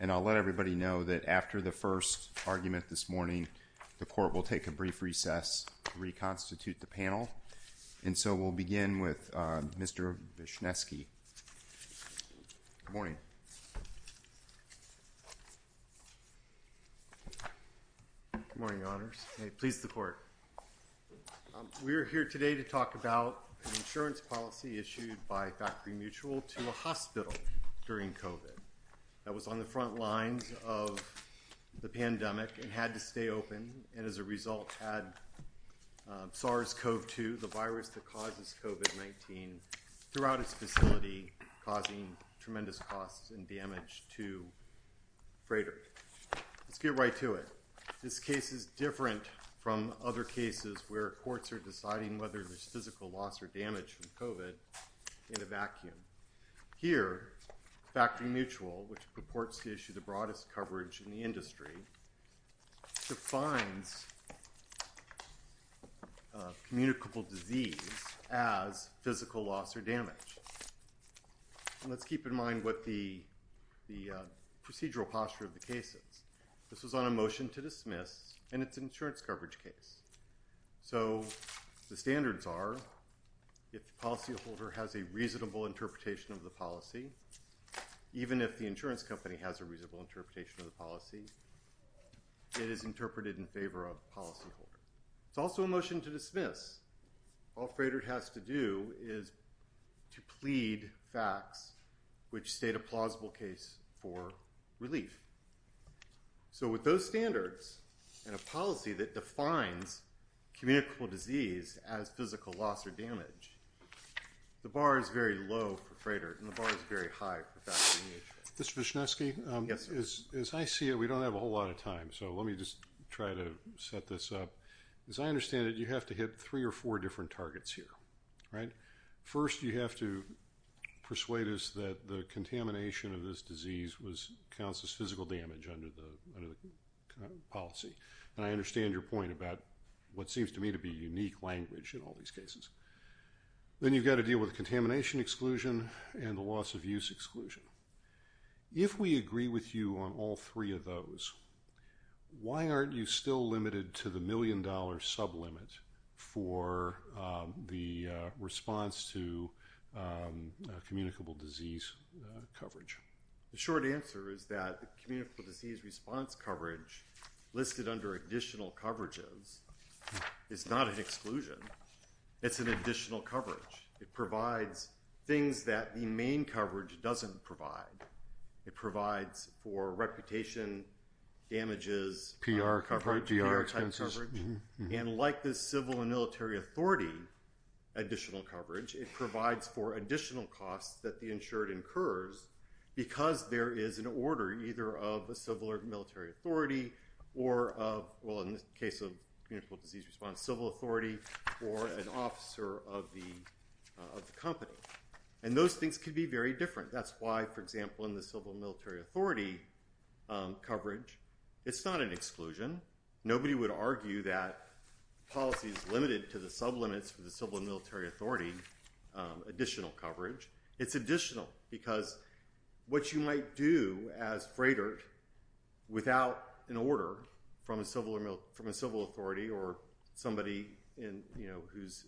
And I'll let everybody know that after the first argument this morning, the court will take a brief recess to reconstitute the panel. And so, we'll begin with Mr. Vishnesky. Good morning. Good morning, Your Honors. May it please the Court. We are here today to talk about an insurance policy issued by Factory Mutual to a hospital during COVID that was on the front lines of the pandemic and had to stay open and, as a result, had SARS-CoV-2 the virus that causes COVID-19 throughout its facility, causing tremendous costs and damage to freighters. Let's get right to it. This case is different from other cases where courts are deciding whether there's physical loss or damage from COVID in a vacuum. Here, Factory Mutual, which purports to issue the broadest coverage in the industry, defines communicable disease as physical loss or damage. And let's keep in mind what the procedural posture of the case is. This was on a motion to dismiss, and it's an insurance coverage case. So, the standards are, if the policyholder has a reasonable interpretation of the policy, even if the insurance company has a reasonable interpretation of the policy, it is interpreted in favor of the policyholder. It's also a motion to dismiss. All a freighter has to do is to plead facts which state a plausible case for relief. So, with those standards and a policy that defines communicable disease as physical loss or damage, the bar is very low for freighters, and the bar is very high for Factory Mutual. Mr. Vishnesky? Yes, sir. As I see it, we don't have a whole lot of time, so let me just try to set this up. As I understand it, you have to hit three or four different targets here, right? First, you have to persuade us that the contamination of this disease counts as physical damage under the policy. And I understand your point about what seems to me to be unique language in all these cases. Then you've got to deal with contamination exclusion and the loss of use exclusion. If we agree with you on all three of those, why aren't you still limited to the million-dollar sublimit for the response to communicable disease coverage? The short answer is that communicable disease response coverage listed under additional coverages is not an exclusion. It's an additional coverage. It provides things that the main coverage doesn't provide. It provides for reputation, damages, PR coverage, PR-type coverage. And like the civil and military authority additional coverage, it provides for additional costs that the insured incurs because there is an order, either of the civil or military authority or, well, in the case of communicable disease response, civil authority or an officer of the company. And those things can be very different. That's why, for example, in the civil and military authority coverage, it's not an exclusion. Nobody would argue that policy is limited to the sublimits for the civil and military authority additional coverage. It's additional because what you might do as freighter without an order from a civil authority or somebody whose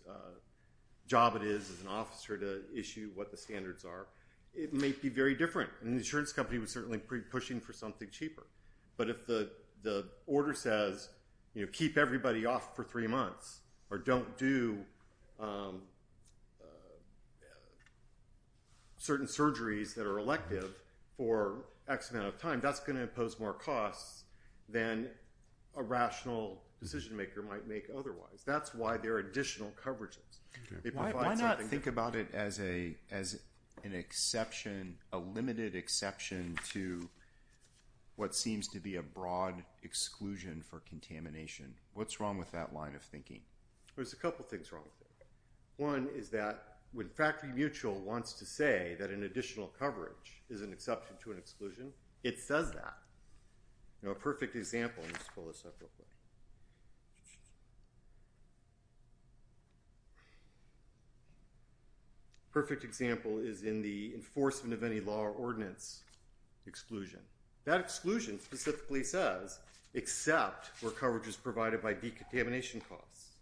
job it is as an officer to issue what the standards are, it may be very different. And the insurance company was certainly pushing for something cheaper. But if the order says, you know, keep everybody off for three months or don't do certain surgeries that are elective for X amount of time, that's going to impose more costs than a rational decision maker might make otherwise. That's why there are additional coverages. Why not think about it as an exception, a limited exception to what seems to be a broad exclusion for contamination? What's wrong with that line of thinking? There's a couple things wrong with it. One is that when Factory Mutual wants to say that an additional coverage is an exception to an exclusion, it says that. A perfect example is in the enforcement of any law or ordinance exclusion. That exclusion specifically says except for coverages provided by decontamination costs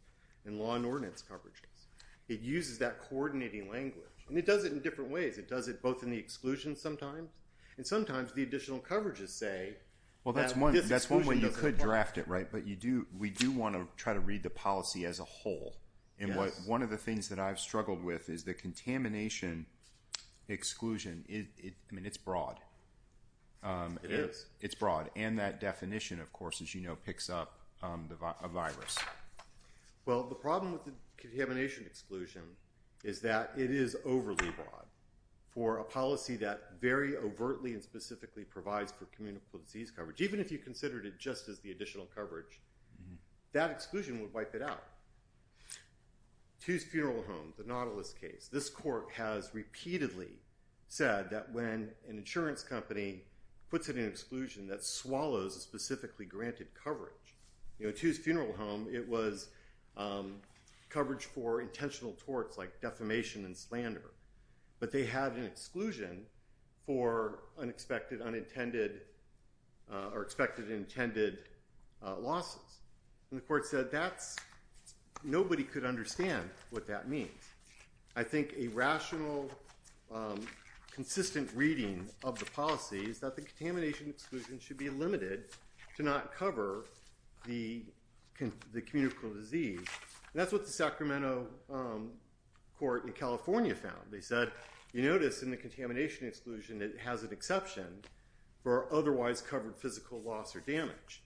and law and ordinance coverages. It uses that coordinating language. And it does it in different ways. It does it both in the exclusion sometimes. And sometimes the additional coverages say that this exclusion doesn't apply. Well, that's one way you could draft it, right? But we do want to try to read the policy as a whole. And one of the things that I've struggled with is the contamination exclusion. I mean, it's broad. It is. It's broad. And that definition, of course, as you know, picks up a virus. Well, the problem with the contamination exclusion is that it is overly broad. For a policy that very overtly and specifically provides for communicable disease coverage, even if you considered it just as the additional coverage, that exclusion would wipe it out. Two's Funeral Home, the Nautilus case. This court has repeatedly said that when an insurance company puts it in exclusion, that swallows specifically granted coverage. You know, Two's Funeral Home, it was coverage for intentional torts like defamation and slander. But they have an exclusion for unexpected, unintended or expected and intended losses. And the court said that's – nobody could understand what that means. I think a rational, consistent reading of the policy is that the contamination exclusion should be limited to not cover the communicable disease. And that's what the Sacramento court in California found. They said, you notice in the contamination exclusion it has an exception for otherwise covered physical loss or damage.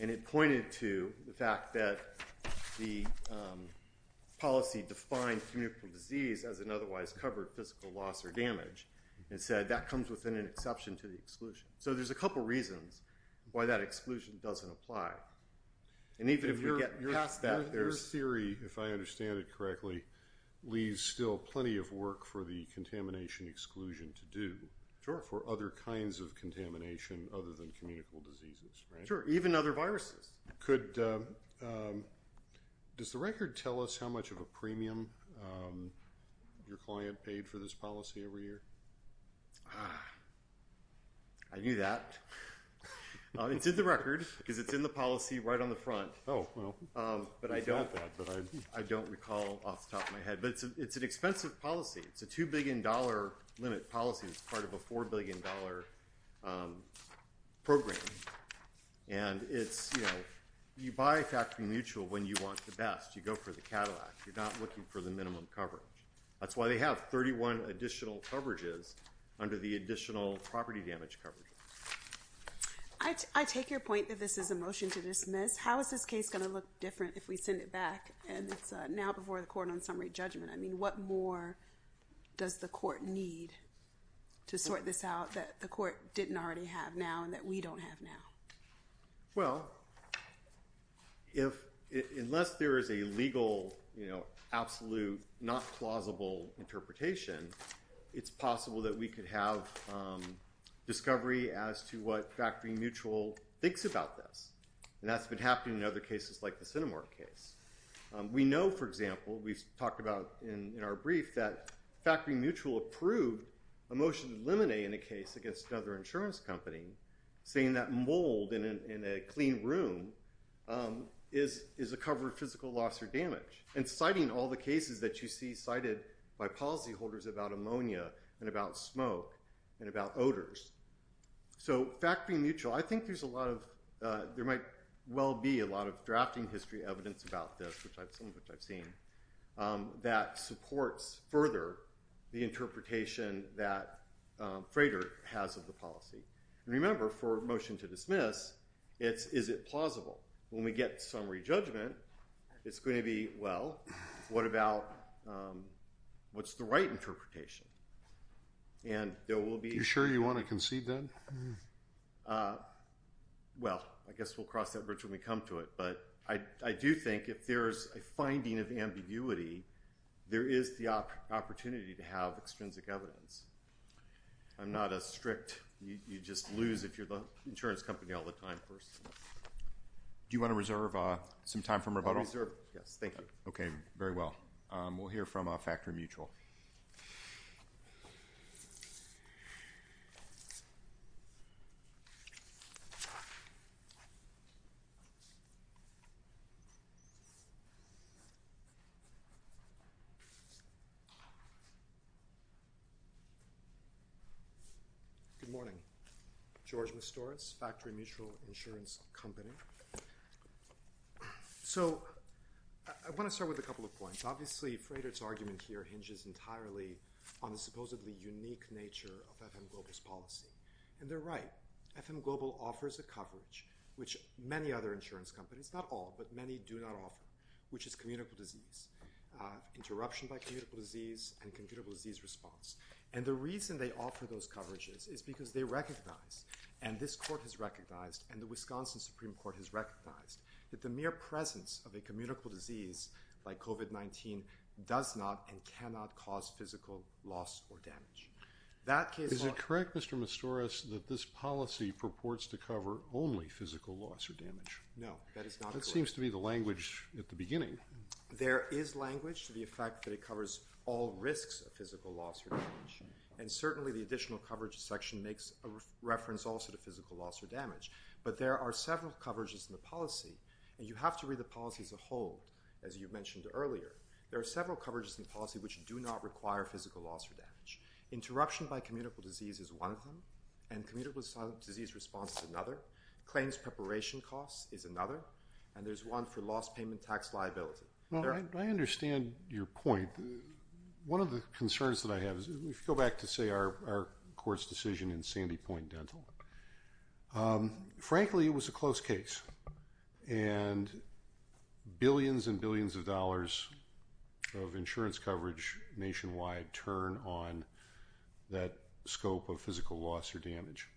And it pointed to the fact that the policy defined communicable disease as an otherwise covered physical loss or damage. It said that comes within an exception to the exclusion. So there's a couple reasons why that exclusion doesn't apply. And even if you get past that, there's – for the contamination exclusion to do for other kinds of contamination other than communicable diseases, right? Sure, even other viruses. Could – does the record tell us how much of a premium your client paid for this policy every year? Ah, I knew that. It's in the record because it's in the policy right on the front. Oh, well. But I don't – It's not that, but I – I don't recall off the top of my head. But it's an expensive policy. It's a $2 billion limit policy that's part of a $4 billion program. And it's, you know, you buy factory mutual when you want the best. You go for the Cadillac. You're not looking for the minimum coverage. That's why they have 31 additional coverages under the additional property damage coverage. I take your point that this is a motion to dismiss. How is this case going to look different if we send it back and it's now before the court on summary judgment? I mean, what more does the court need to sort this out that the court didn't already have now and that we don't have now? Well, if – unless there is a legal, you know, absolute, not plausible interpretation, it's possible that we could have discovery as to what factory mutual thinks about this. And that's been happening in other cases like the Cinemark case. We know, for example, we've talked about in our brief that factory mutual approved a motion to eliminate in a case against another insurance company, saying that mold in a clean room is a cover of physical loss or damage. And citing all the cases that you see cited by policyholders about ammonia and about smoke and about odors. So factory mutual, I think there's a lot of – there might well be a lot of drafting history evidence about this, some of which I've seen, that supports further the interpretation that Frater has of the policy. And remember, for a motion to dismiss, it's is it plausible. When we get summary judgment, it's going to be, well, what about – what's the right interpretation? And there will be – Are you sure you want to concede that? Well, I guess we'll cross that bridge when we come to it. But I do think if there is a finding of ambiguity, there is the opportunity to have extrinsic evidence. I'm not as strict. You just lose if you're the insurance company all the time person. Do you want to reserve some time for rebuttal? I'll reserve. Yes, thank you. Okay, very well. We'll hear from factory mutual. Good morning. George Mastoris, Factory Mutual Insurance Company. So I want to start with a couple of points. Obviously, Frater's argument here hinges entirely on the supposedly unique nature of FM Global's policy. And they're right. FM Global offers a coverage, which many other insurance companies – not all, but many do not offer – which is communicable disease, interruption by communicable disease, and communicable disease response. And the reason they offer those coverages is because they recognize, and this court has recognized, and the Wisconsin Supreme Court has recognized, that the mere presence of a communicable disease like COVID-19 does not and cannot cause physical loss or damage. Is it correct, Mr. Mastoris, that this policy purports to cover only physical loss or damage? No, that is not correct. That seems to be the language at the beginning. There is language to the effect that it covers all risks of physical loss or damage. And certainly the additional coverage section makes reference also to physical loss or damage. But there are several coverages in the policy, and you have to read the policy as a whole, as you mentioned earlier. There are several coverages in the policy which do not require physical loss or damage. Interruption by communicable disease is one of them, and communicable disease response is another. Claims preparation costs is another, and there's one for lost payment tax liability. I understand your point. One of the concerns that I have is, if you go back to, say, our court's decision in Sandy Point Dental, frankly it was a close case, and billions and billions of dollars of insurance coverage nationwide turn on that scope of physical loss or damage.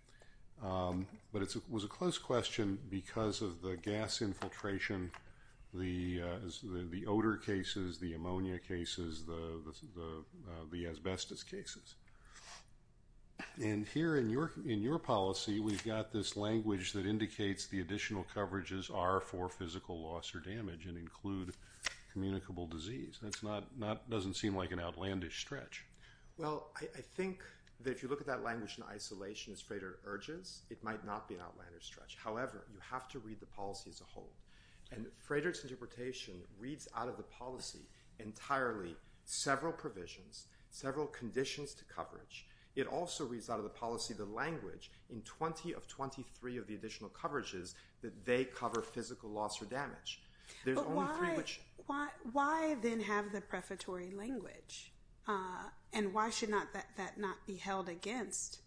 But it was a close question because of the gas infiltration, the odor cases, the ammonia cases, the asbestos cases. And here in your policy, we've got this language that indicates the additional coverages are for physical loss or damage and include communicable disease. That doesn't seem like an outlandish stretch. Well, I think that if you look at that language in isolation, as Frederick urges, it might not be an outlandish stretch. However, you have to read the policy as a whole. And Frederick's interpretation reads out of the policy entirely several provisions, several conditions to coverage. It also reads out of the policy the language in 20 of 23 of the additional coverages that they cover physical loss or damage. But why then have the prefatory language? And why should that not be held against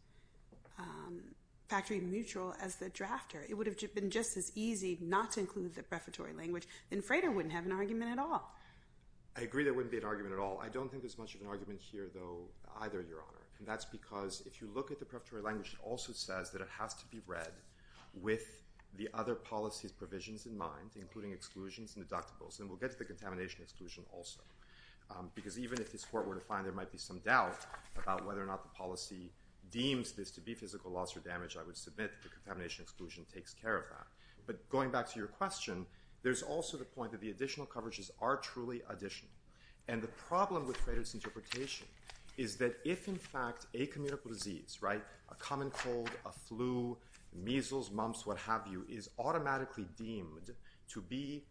factory mutual as the drafter? It would have been just as easy not to include the prefatory language. Then Frederick wouldn't have an argument at all. I agree there wouldn't be an argument at all. I don't think there's much of an argument here, though, either, Your Honor. And that's because if you look at the prefatory language, it also says that it has to be read with the other policy's provisions in mind, including exclusions and deductibles. And we'll get to the contamination exclusion also. Because even if this court were to find there might be some doubt about whether or not the policy deems this to be physical loss or damage, I would submit that the contamination exclusion takes care of that. But going back to your question, there's also the point that the additional coverages are truly additional. And the problem with Frederick's interpretation is that if, in fact, a communicable disease, right, a common cold, a flu, measles, mumps, what have you, is automatically deemed to be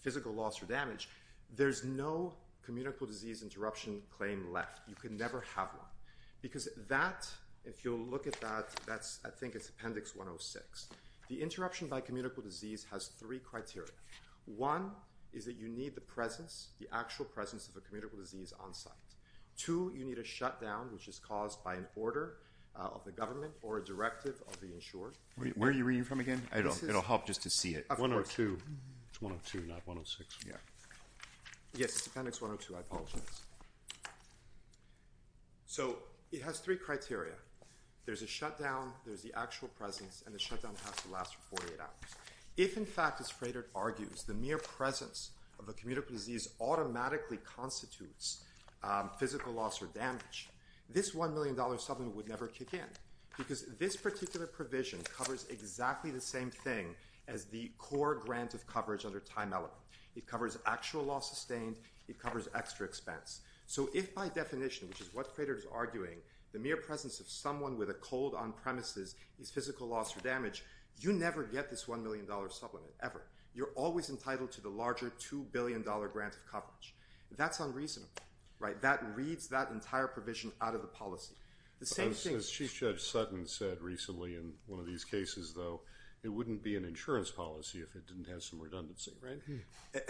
physical loss or damage, there's no communicable disease interruption claim left. You can never have one. Because that, if you'll look at that, that's I think it's Appendix 106. The interruption by communicable disease has three criteria. One is that you need the presence, the actual presence of a communicable disease on site. Two, you need a shutdown, which is caused by an order of the government or a directive of the insurer. Where are you reading from again? It'll help just to see it. It's 102, not 106. Yeah. Yes, it's Appendix 102. I apologize. So it has three criteria. There's a shutdown, there's the actual presence, and the shutdown has to last for 48 hours. If in fact, as Frederick argues, the mere presence of a communicable disease automatically constitutes physical loss or damage, this $1 million supplement would never kick in. Because this particular provision covers exactly the same thing as the core grant of coverage under Time Element. It covers actual loss sustained, it covers extra expense. So if by definition, which is what Frederick is arguing, the mere presence of someone with a cold on premises is physical loss or damage, you never get this $1 million supplement, ever. You're always entitled to the larger $2 billion grant of coverage. That's unreasonable, right? That reads that entire provision out of the policy. As Chief Judge Sutton said recently in one of these cases, though, it wouldn't be an insurance policy if it didn't have some redundancy, right?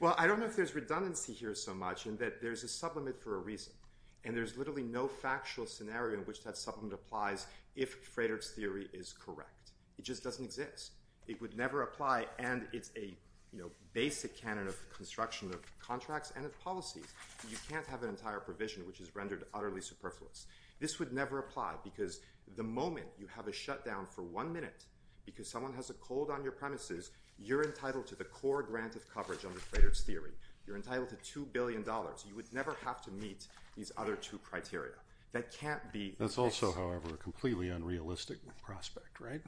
Well, I don't know if there's redundancy here so much in that there's a supplement for a reason. And there's literally no factual scenario in which that supplement applies if Frederick's theory is correct. It just doesn't exist. It would never apply, and it's a basic canon of construction of contracts and of policies. You can't have an entire provision which is rendered utterly superfluous. This would never apply because the moment you have a shutdown for one minute because someone has a cold on your premises, you're entitled to the core grant of coverage under Frederick's theory. You're entitled to $2 billion. You would never have to meet these other two criteria. That can't be the case. That's also, however, a completely unrealistic prospect, right?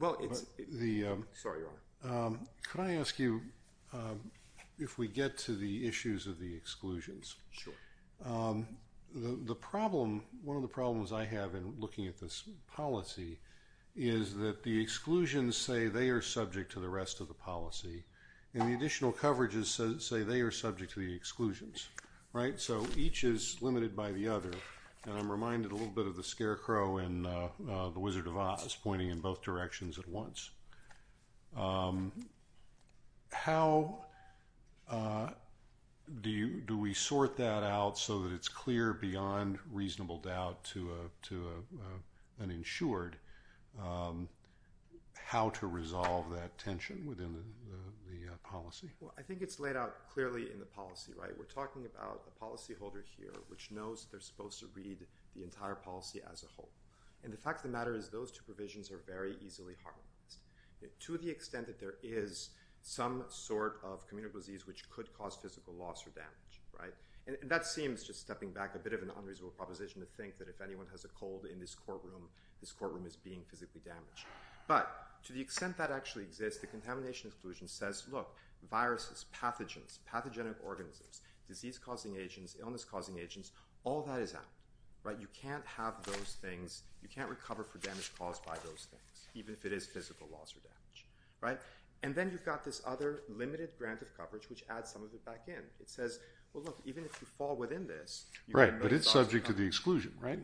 Well, it's – sorry, Your Honor. Could I ask you if we get to the issues of the exclusions? Sure. The problem – one of the problems I have in looking at this policy is that the exclusions say they are subject to the rest of the policy, and the additional coverages say they are subject to the exclusions, right? So each is limited by the other. And I'm reminded a little bit of the scarecrow and the Wizard of Oz pointing in both directions at once. How do we sort that out so that it's clear beyond reasonable doubt to an insured how to resolve that tension within the policy? Well, I think it's laid out clearly in the policy, right? We're talking about a policyholder here which knows that they're supposed to read the entire policy as a whole. And the fact of the matter is those two provisions are very easily harmonized to the extent that there is some sort of communicable disease which could cause physical loss or damage, right? And that seems, just stepping back, a bit of an unreasonable proposition to think that if anyone has a cold in this courtroom, this courtroom is being physically damaged. But to the extent that actually exists, the contamination exclusion says, look, viruses, pathogens, pathogenic organisms, disease-causing agents, illness-causing agents, all that is out, right? You can't have those things. You can't recover for damage caused by those things, even if it is physical loss or damage, right? And then you've got this other limited grant of coverage which adds some of it back in. It says, well, look, even if you fall within this… Right, but it's subject to the exclusion, right?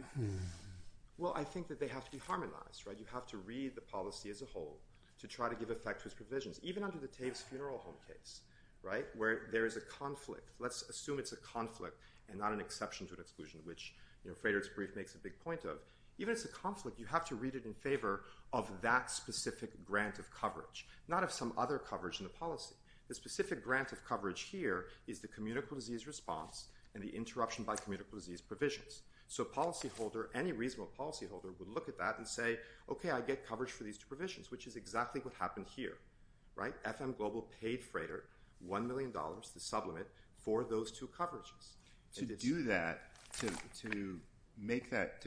Well, I think that they have to be harmonized, right? You have to read the policy as a whole to try to give effect to its provisions. Even under the Tavis Funeral Home case, right, where there is a conflict. Let's assume it's a conflict and not an exception to an exclusion, which Frederick's brief makes a big point of. Even if it's a conflict, you have to read it in favor of that specific grant of coverage, not of some other coverage in the policy. The specific grant of coverage here is the communicable disease response and the interruption by communicable disease provisions. So a policyholder, any reasonable policyholder, would look at that and say, okay, I get coverage for these two provisions, which is exactly what happened here, right? FM Global paid Frederick $1 million, the sublimit, for those two coverages. To do that, to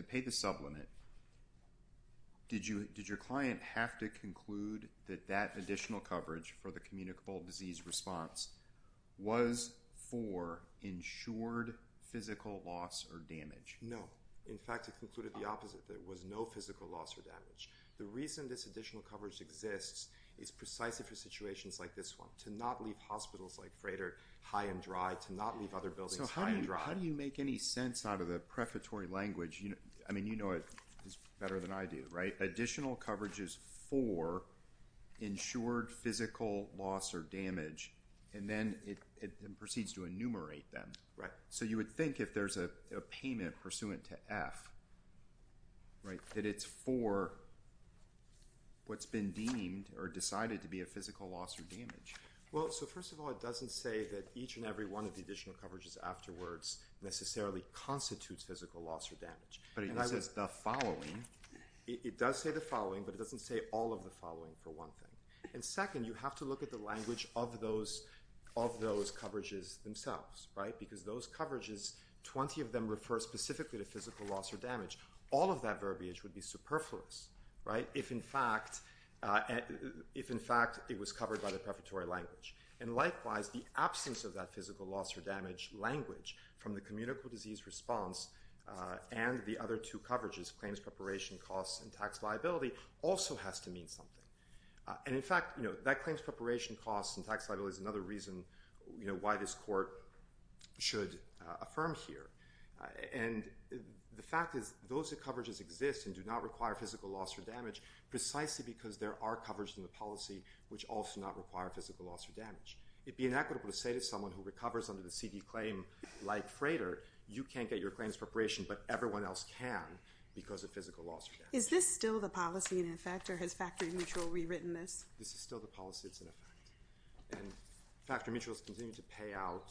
pay the sublimit, did your client have to conclude that that additional coverage for the communicable disease response was for insured physical loss or damage? No. In fact, it concluded the opposite. There was no physical loss or damage. The reason this additional coverage exists is precisely for situations like this one, to not leave hospitals like Frederick high and dry, to not leave other buildings… So how do you make any sense out of the prefatory language? I mean, you know it better than I do, right? Additional coverage is for insured physical loss or damage, and then it proceeds to enumerate them. Right. So you would think if there's a payment pursuant to F, right, that it's for what's been deemed or decided to be a physical loss or damage. Well, so first of all, it doesn't say that each and every one of the additional coverages afterwards necessarily constitutes physical loss or damage. But it does say the following. It does say the following, but it doesn't say all of the following for one thing. And second, you have to look at the language of those coverages themselves, right? Because those coverages, 20 of them refer specifically to physical loss or damage. All of that verbiage would be superfluous, right, if in fact it was covered by the prefatory language. And likewise, the absence of that physical loss or damage language from the communicable disease response and the other two coverages, claims preparation costs and tax liability, also has to mean something. And in fact, you know, that claims preparation costs and tax liability is another reason, you know, why this court should affirm here. And the fact is those coverages exist and do not require physical loss or damage precisely because there are coverages in the policy which also not require physical loss or damage. It would be inequitable to say to someone who recovers under the CD claim like Frater, you can't get your claims preparation, but everyone else can because of physical loss or damage. Is this still the policy in effect or has factory mutual rewritten this? This is still the policy that's in effect. And factory mutuals continue to pay out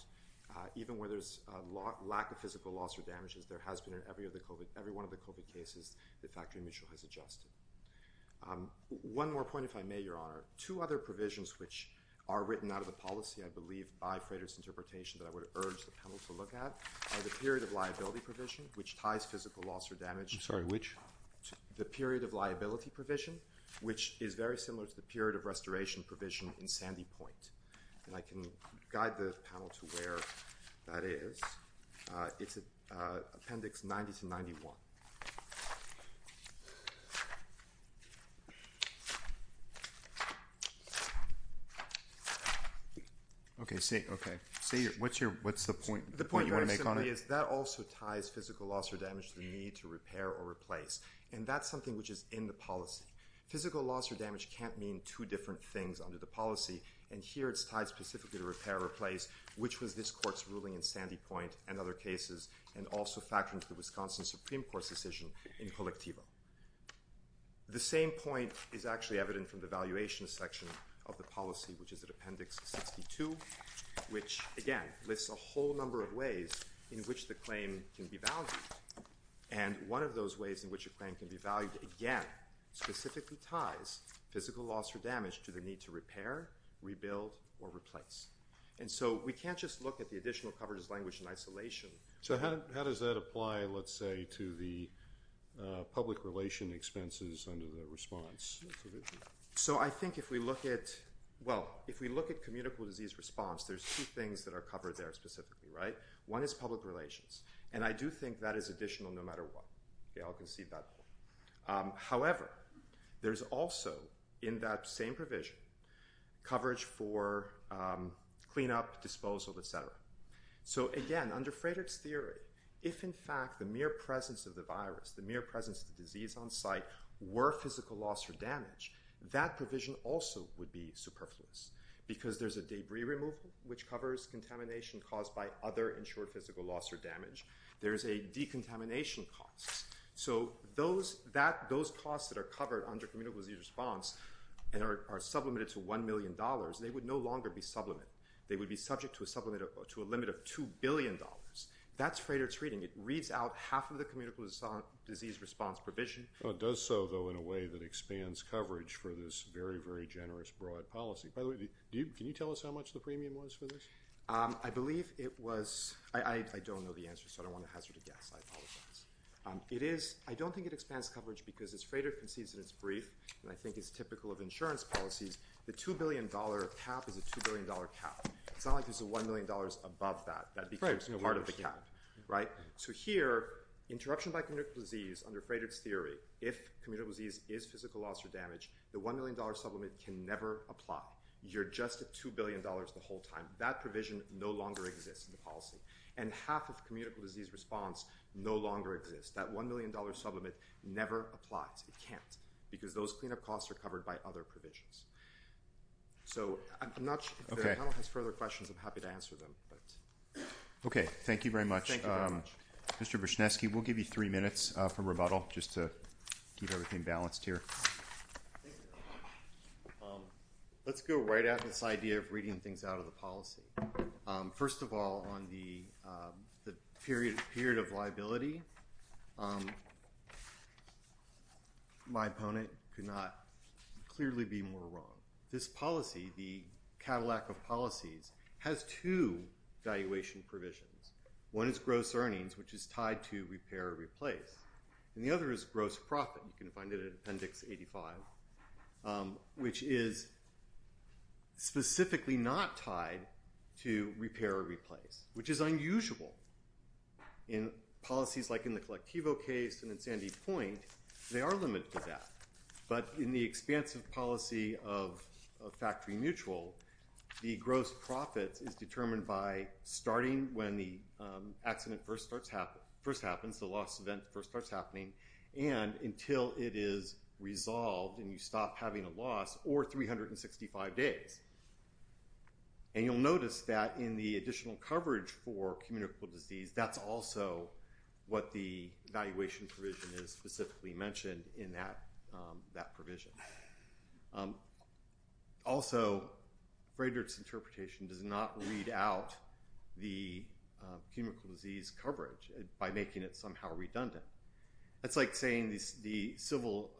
even where there's a lot lack of physical loss or damages. There has been in every other COVID, every one of the COVID cases that factory mutual has adjusted. One more point, if I may, Your Honor. Two other provisions which are written out of the policy, I believe, by Frater's interpretation that I would urge the panel to look at are the period of liability provision, which ties physical loss or damage. I'm sorry, which? The period of liability provision, which is very similar to the period of restoration provision in Sandy Point. And I can guide the panel to where that is. It's Appendix 90 to 91. Okay. What's the point you want to make on it? The point is that also ties physical loss or damage to the need to repair or replace. And that's something which is in the policy. Physical loss or damage can't mean two different things under the policy. And here it's tied specifically to repair or replace, which was this court's ruling in Sandy Point and other cases, and also factoring to the Wisconsin Supreme Court's decision in Colectivo. The same point is actually evident from the valuation section of the policy, which is at Appendix 62, which, again, lists a whole number of ways in which the claim can be valued. And one of those ways in which a claim can be valued, again, specifically ties physical loss or damage to the need to repair, rebuild, or replace. And so we can't just look at the additional coverage as language in isolation. So how does that apply, let's say, to the public relation expenses under the response provision? So I think if we look at – well, if we look at communicable disease response, there's two things that are covered there specifically, right? One is public relations, and I do think that is additional no matter what. Okay, I'll concede that point. However, there's also in that same provision coverage for cleanup, disposal, et cetera. So, again, under Frederick's theory, if in fact the mere presence of the virus, the mere presence of the disease on site, were physical loss or damage, that provision also would be superfluous. Because there's a debris removal, which covers contamination caused by other insured physical loss or damage. There's a decontamination cost. So those costs that are covered under communicable disease response and are sublimated to $1 million, they would no longer be sublimate. They would be subject to a limit of $2 billion. That's Frederick's reading. It reads out half of the communicable disease response provision. It does so, though, in a way that expands coverage for this very, very generous broad policy. By the way, can you tell us how much the premium was for this? I believe it was – I don't know the answer, so I don't want to hazard a guess. I apologize. It is – I don't think it expands coverage because, as Frederick concedes in his brief, and I think is typical of insurance policies, the $2 billion cap is a $2 billion cap. It's not like there's a $1 million above that that becomes part of the cap. So here, interruption by communicable disease under Frederick's theory, if communicable disease is physical loss or damage, the $1 million sublimate can never apply. You're just at $2 billion the whole time. That provision no longer exists in the policy. And half of communicable disease response no longer exists. That $1 million sublimate never applies. It can't because those cleanup costs are covered by other provisions. So I'm not – if the panel has further questions, I'm happy to answer them. Okay. Thank you very much. Thank you very much. Mr. Brzezinski, we'll give you three minutes for rebuttal just to keep everything balanced here. Let's go right at this idea of reading things out of the policy. First of all, on the period of liability, my opponent could not clearly be more wrong. This policy, the Cadillac of policies, has two valuation provisions. One is gross earnings, which is tied to repair or replace. And the other is gross profit. You can find it in Appendix 85, which is specifically not tied to repair or replace, which is unusual. In policies like in the Collectivo case and in Sandy Point, they are limited to that. But in the expansive policy of factory mutual, the gross profit is determined by starting when the accident first happens, the loss event first starts happening, and until it is resolved and you stop having a loss or 365 days. And you'll notice that in the additional coverage for communicable disease, that's also what the valuation provision is specifically mentioned in that provision. Also, Friedrich's interpretation does not read out the communicable disease coverage by making it somehow redundant. That's like saying the civil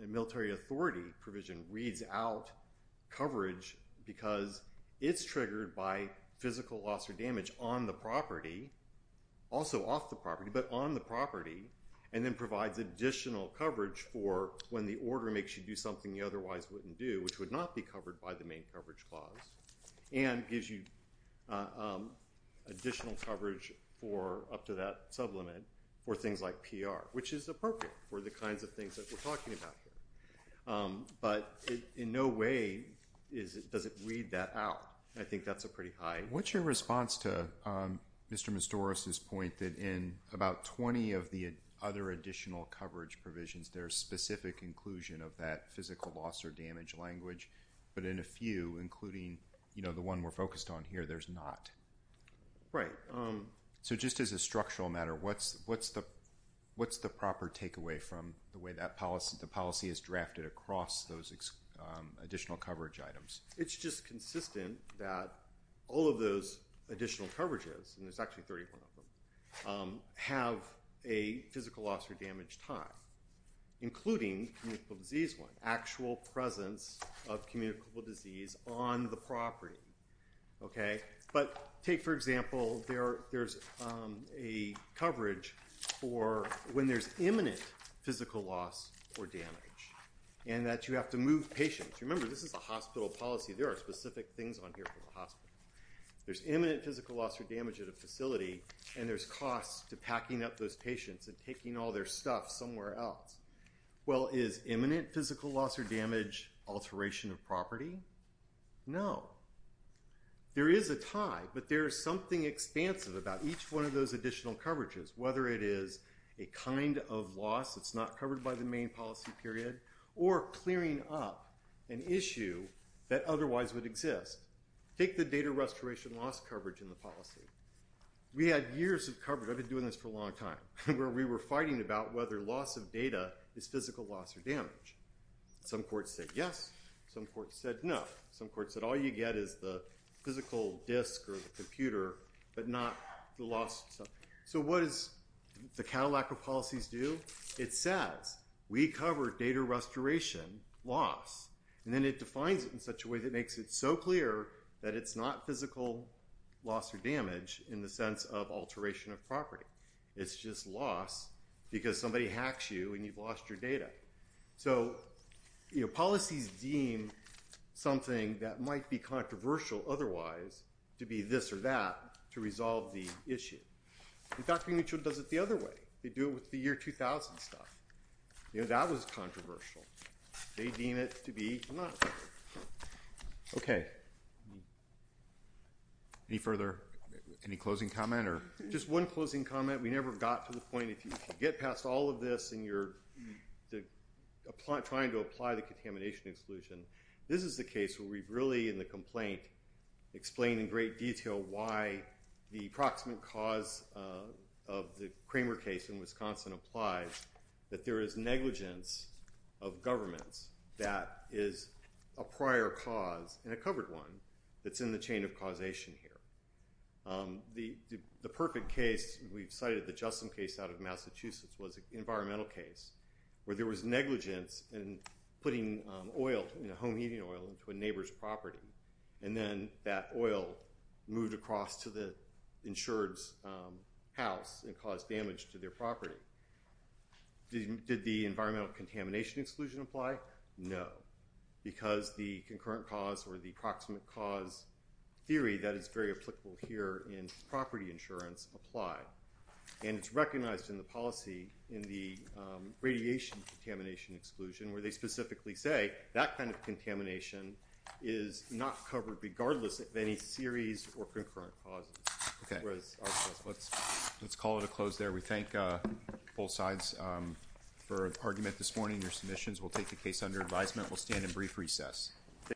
and military authority provision reads out coverage because it's triggered by physical loss or damage on the property, also off the property, but on the property, and then provides additional coverage for when the order makes you do something you otherwise wouldn't do, which would not be covered by the main coverage clause, and gives you additional coverage up to that sublimit for things like PR, which is appropriate for the kinds of things that we're talking about here. But in no way does it read that out. I think that's a pretty high… And what's your response to Mr. Mistoris' point that in about 20 of the other additional coverage provisions, there's specific inclusion of that physical loss or damage language, but in a few, including the one we're focused on here, there's not? Right. So just as a structural matter, what's the proper takeaway from the way the policy is drafted across those additional coverage items? It's just consistent that all of those additional coverages, and there's actually 31 of them, have a physical loss or damage time, including communicable disease one, actual presence of communicable disease on the property. But take, for example, there's a coverage for when there's imminent physical loss or damage, and that you have to move patients. Remember, this is a hospital policy. There are specific things on here for the hospital. There's imminent physical loss or damage at a facility, and there's costs to packing up those patients and taking all their stuff somewhere else. Well, is imminent physical loss or damage alteration of property? No. There is a tie, but there is something expansive about each one of those additional coverages, whether it is a kind of loss that's not covered by the main policy period, or clearing up an issue that otherwise would exist. Take the data restoration loss coverage in the policy. We had years of coverage. I've been doing this for a long time, where we were fighting about whether loss of data is physical loss or damage. Some courts said yes. Some courts said no. Some courts said all you get is the physical disk or the computer, but not the loss. So what does the Cadillac of policies do? It says, we cover data restoration loss, and then it defines it in such a way that makes it so clear that it's not physical loss or damage in the sense of alteration of property. It's just loss because somebody hacks you and you've lost your data. So policies deem something that might be controversial otherwise to be this or that to resolve the issue. And Dr. Mitchell does it the other way. They do it with the year 2000 stuff. That was controversial. They deem it to be not. Okay. Any further? Any closing comment? Just one closing comment. We never got to the point. If you get past all of this and you're trying to apply the contamination exclusion, this is the case where we've really, in the complaint, explained in great detail why the approximate cause of the Kramer case in Wisconsin applies that there is negligence of governments that is a prior cause and a covered one that's in the chain of causation here. The perfect case, we've cited the Justin case out of Massachusetts, was an environmental case where there was negligence in putting oil, home heating oil, into a neighbor's property. And then that oil moved across to the insured's house and caused damage to their property. Did the environmental contamination exclusion apply? No. Because the concurrent cause or the approximate cause theory that is very applicable here in property insurance applied. And it's recognized in the policy in the radiation contamination exclusion where they specifically say that kind of contamination is not covered regardless of any series or concurrent causes. Let's call it a close there. We thank both sides for argument this morning. Your submissions will take the case under advisement. We'll stand in brief recess.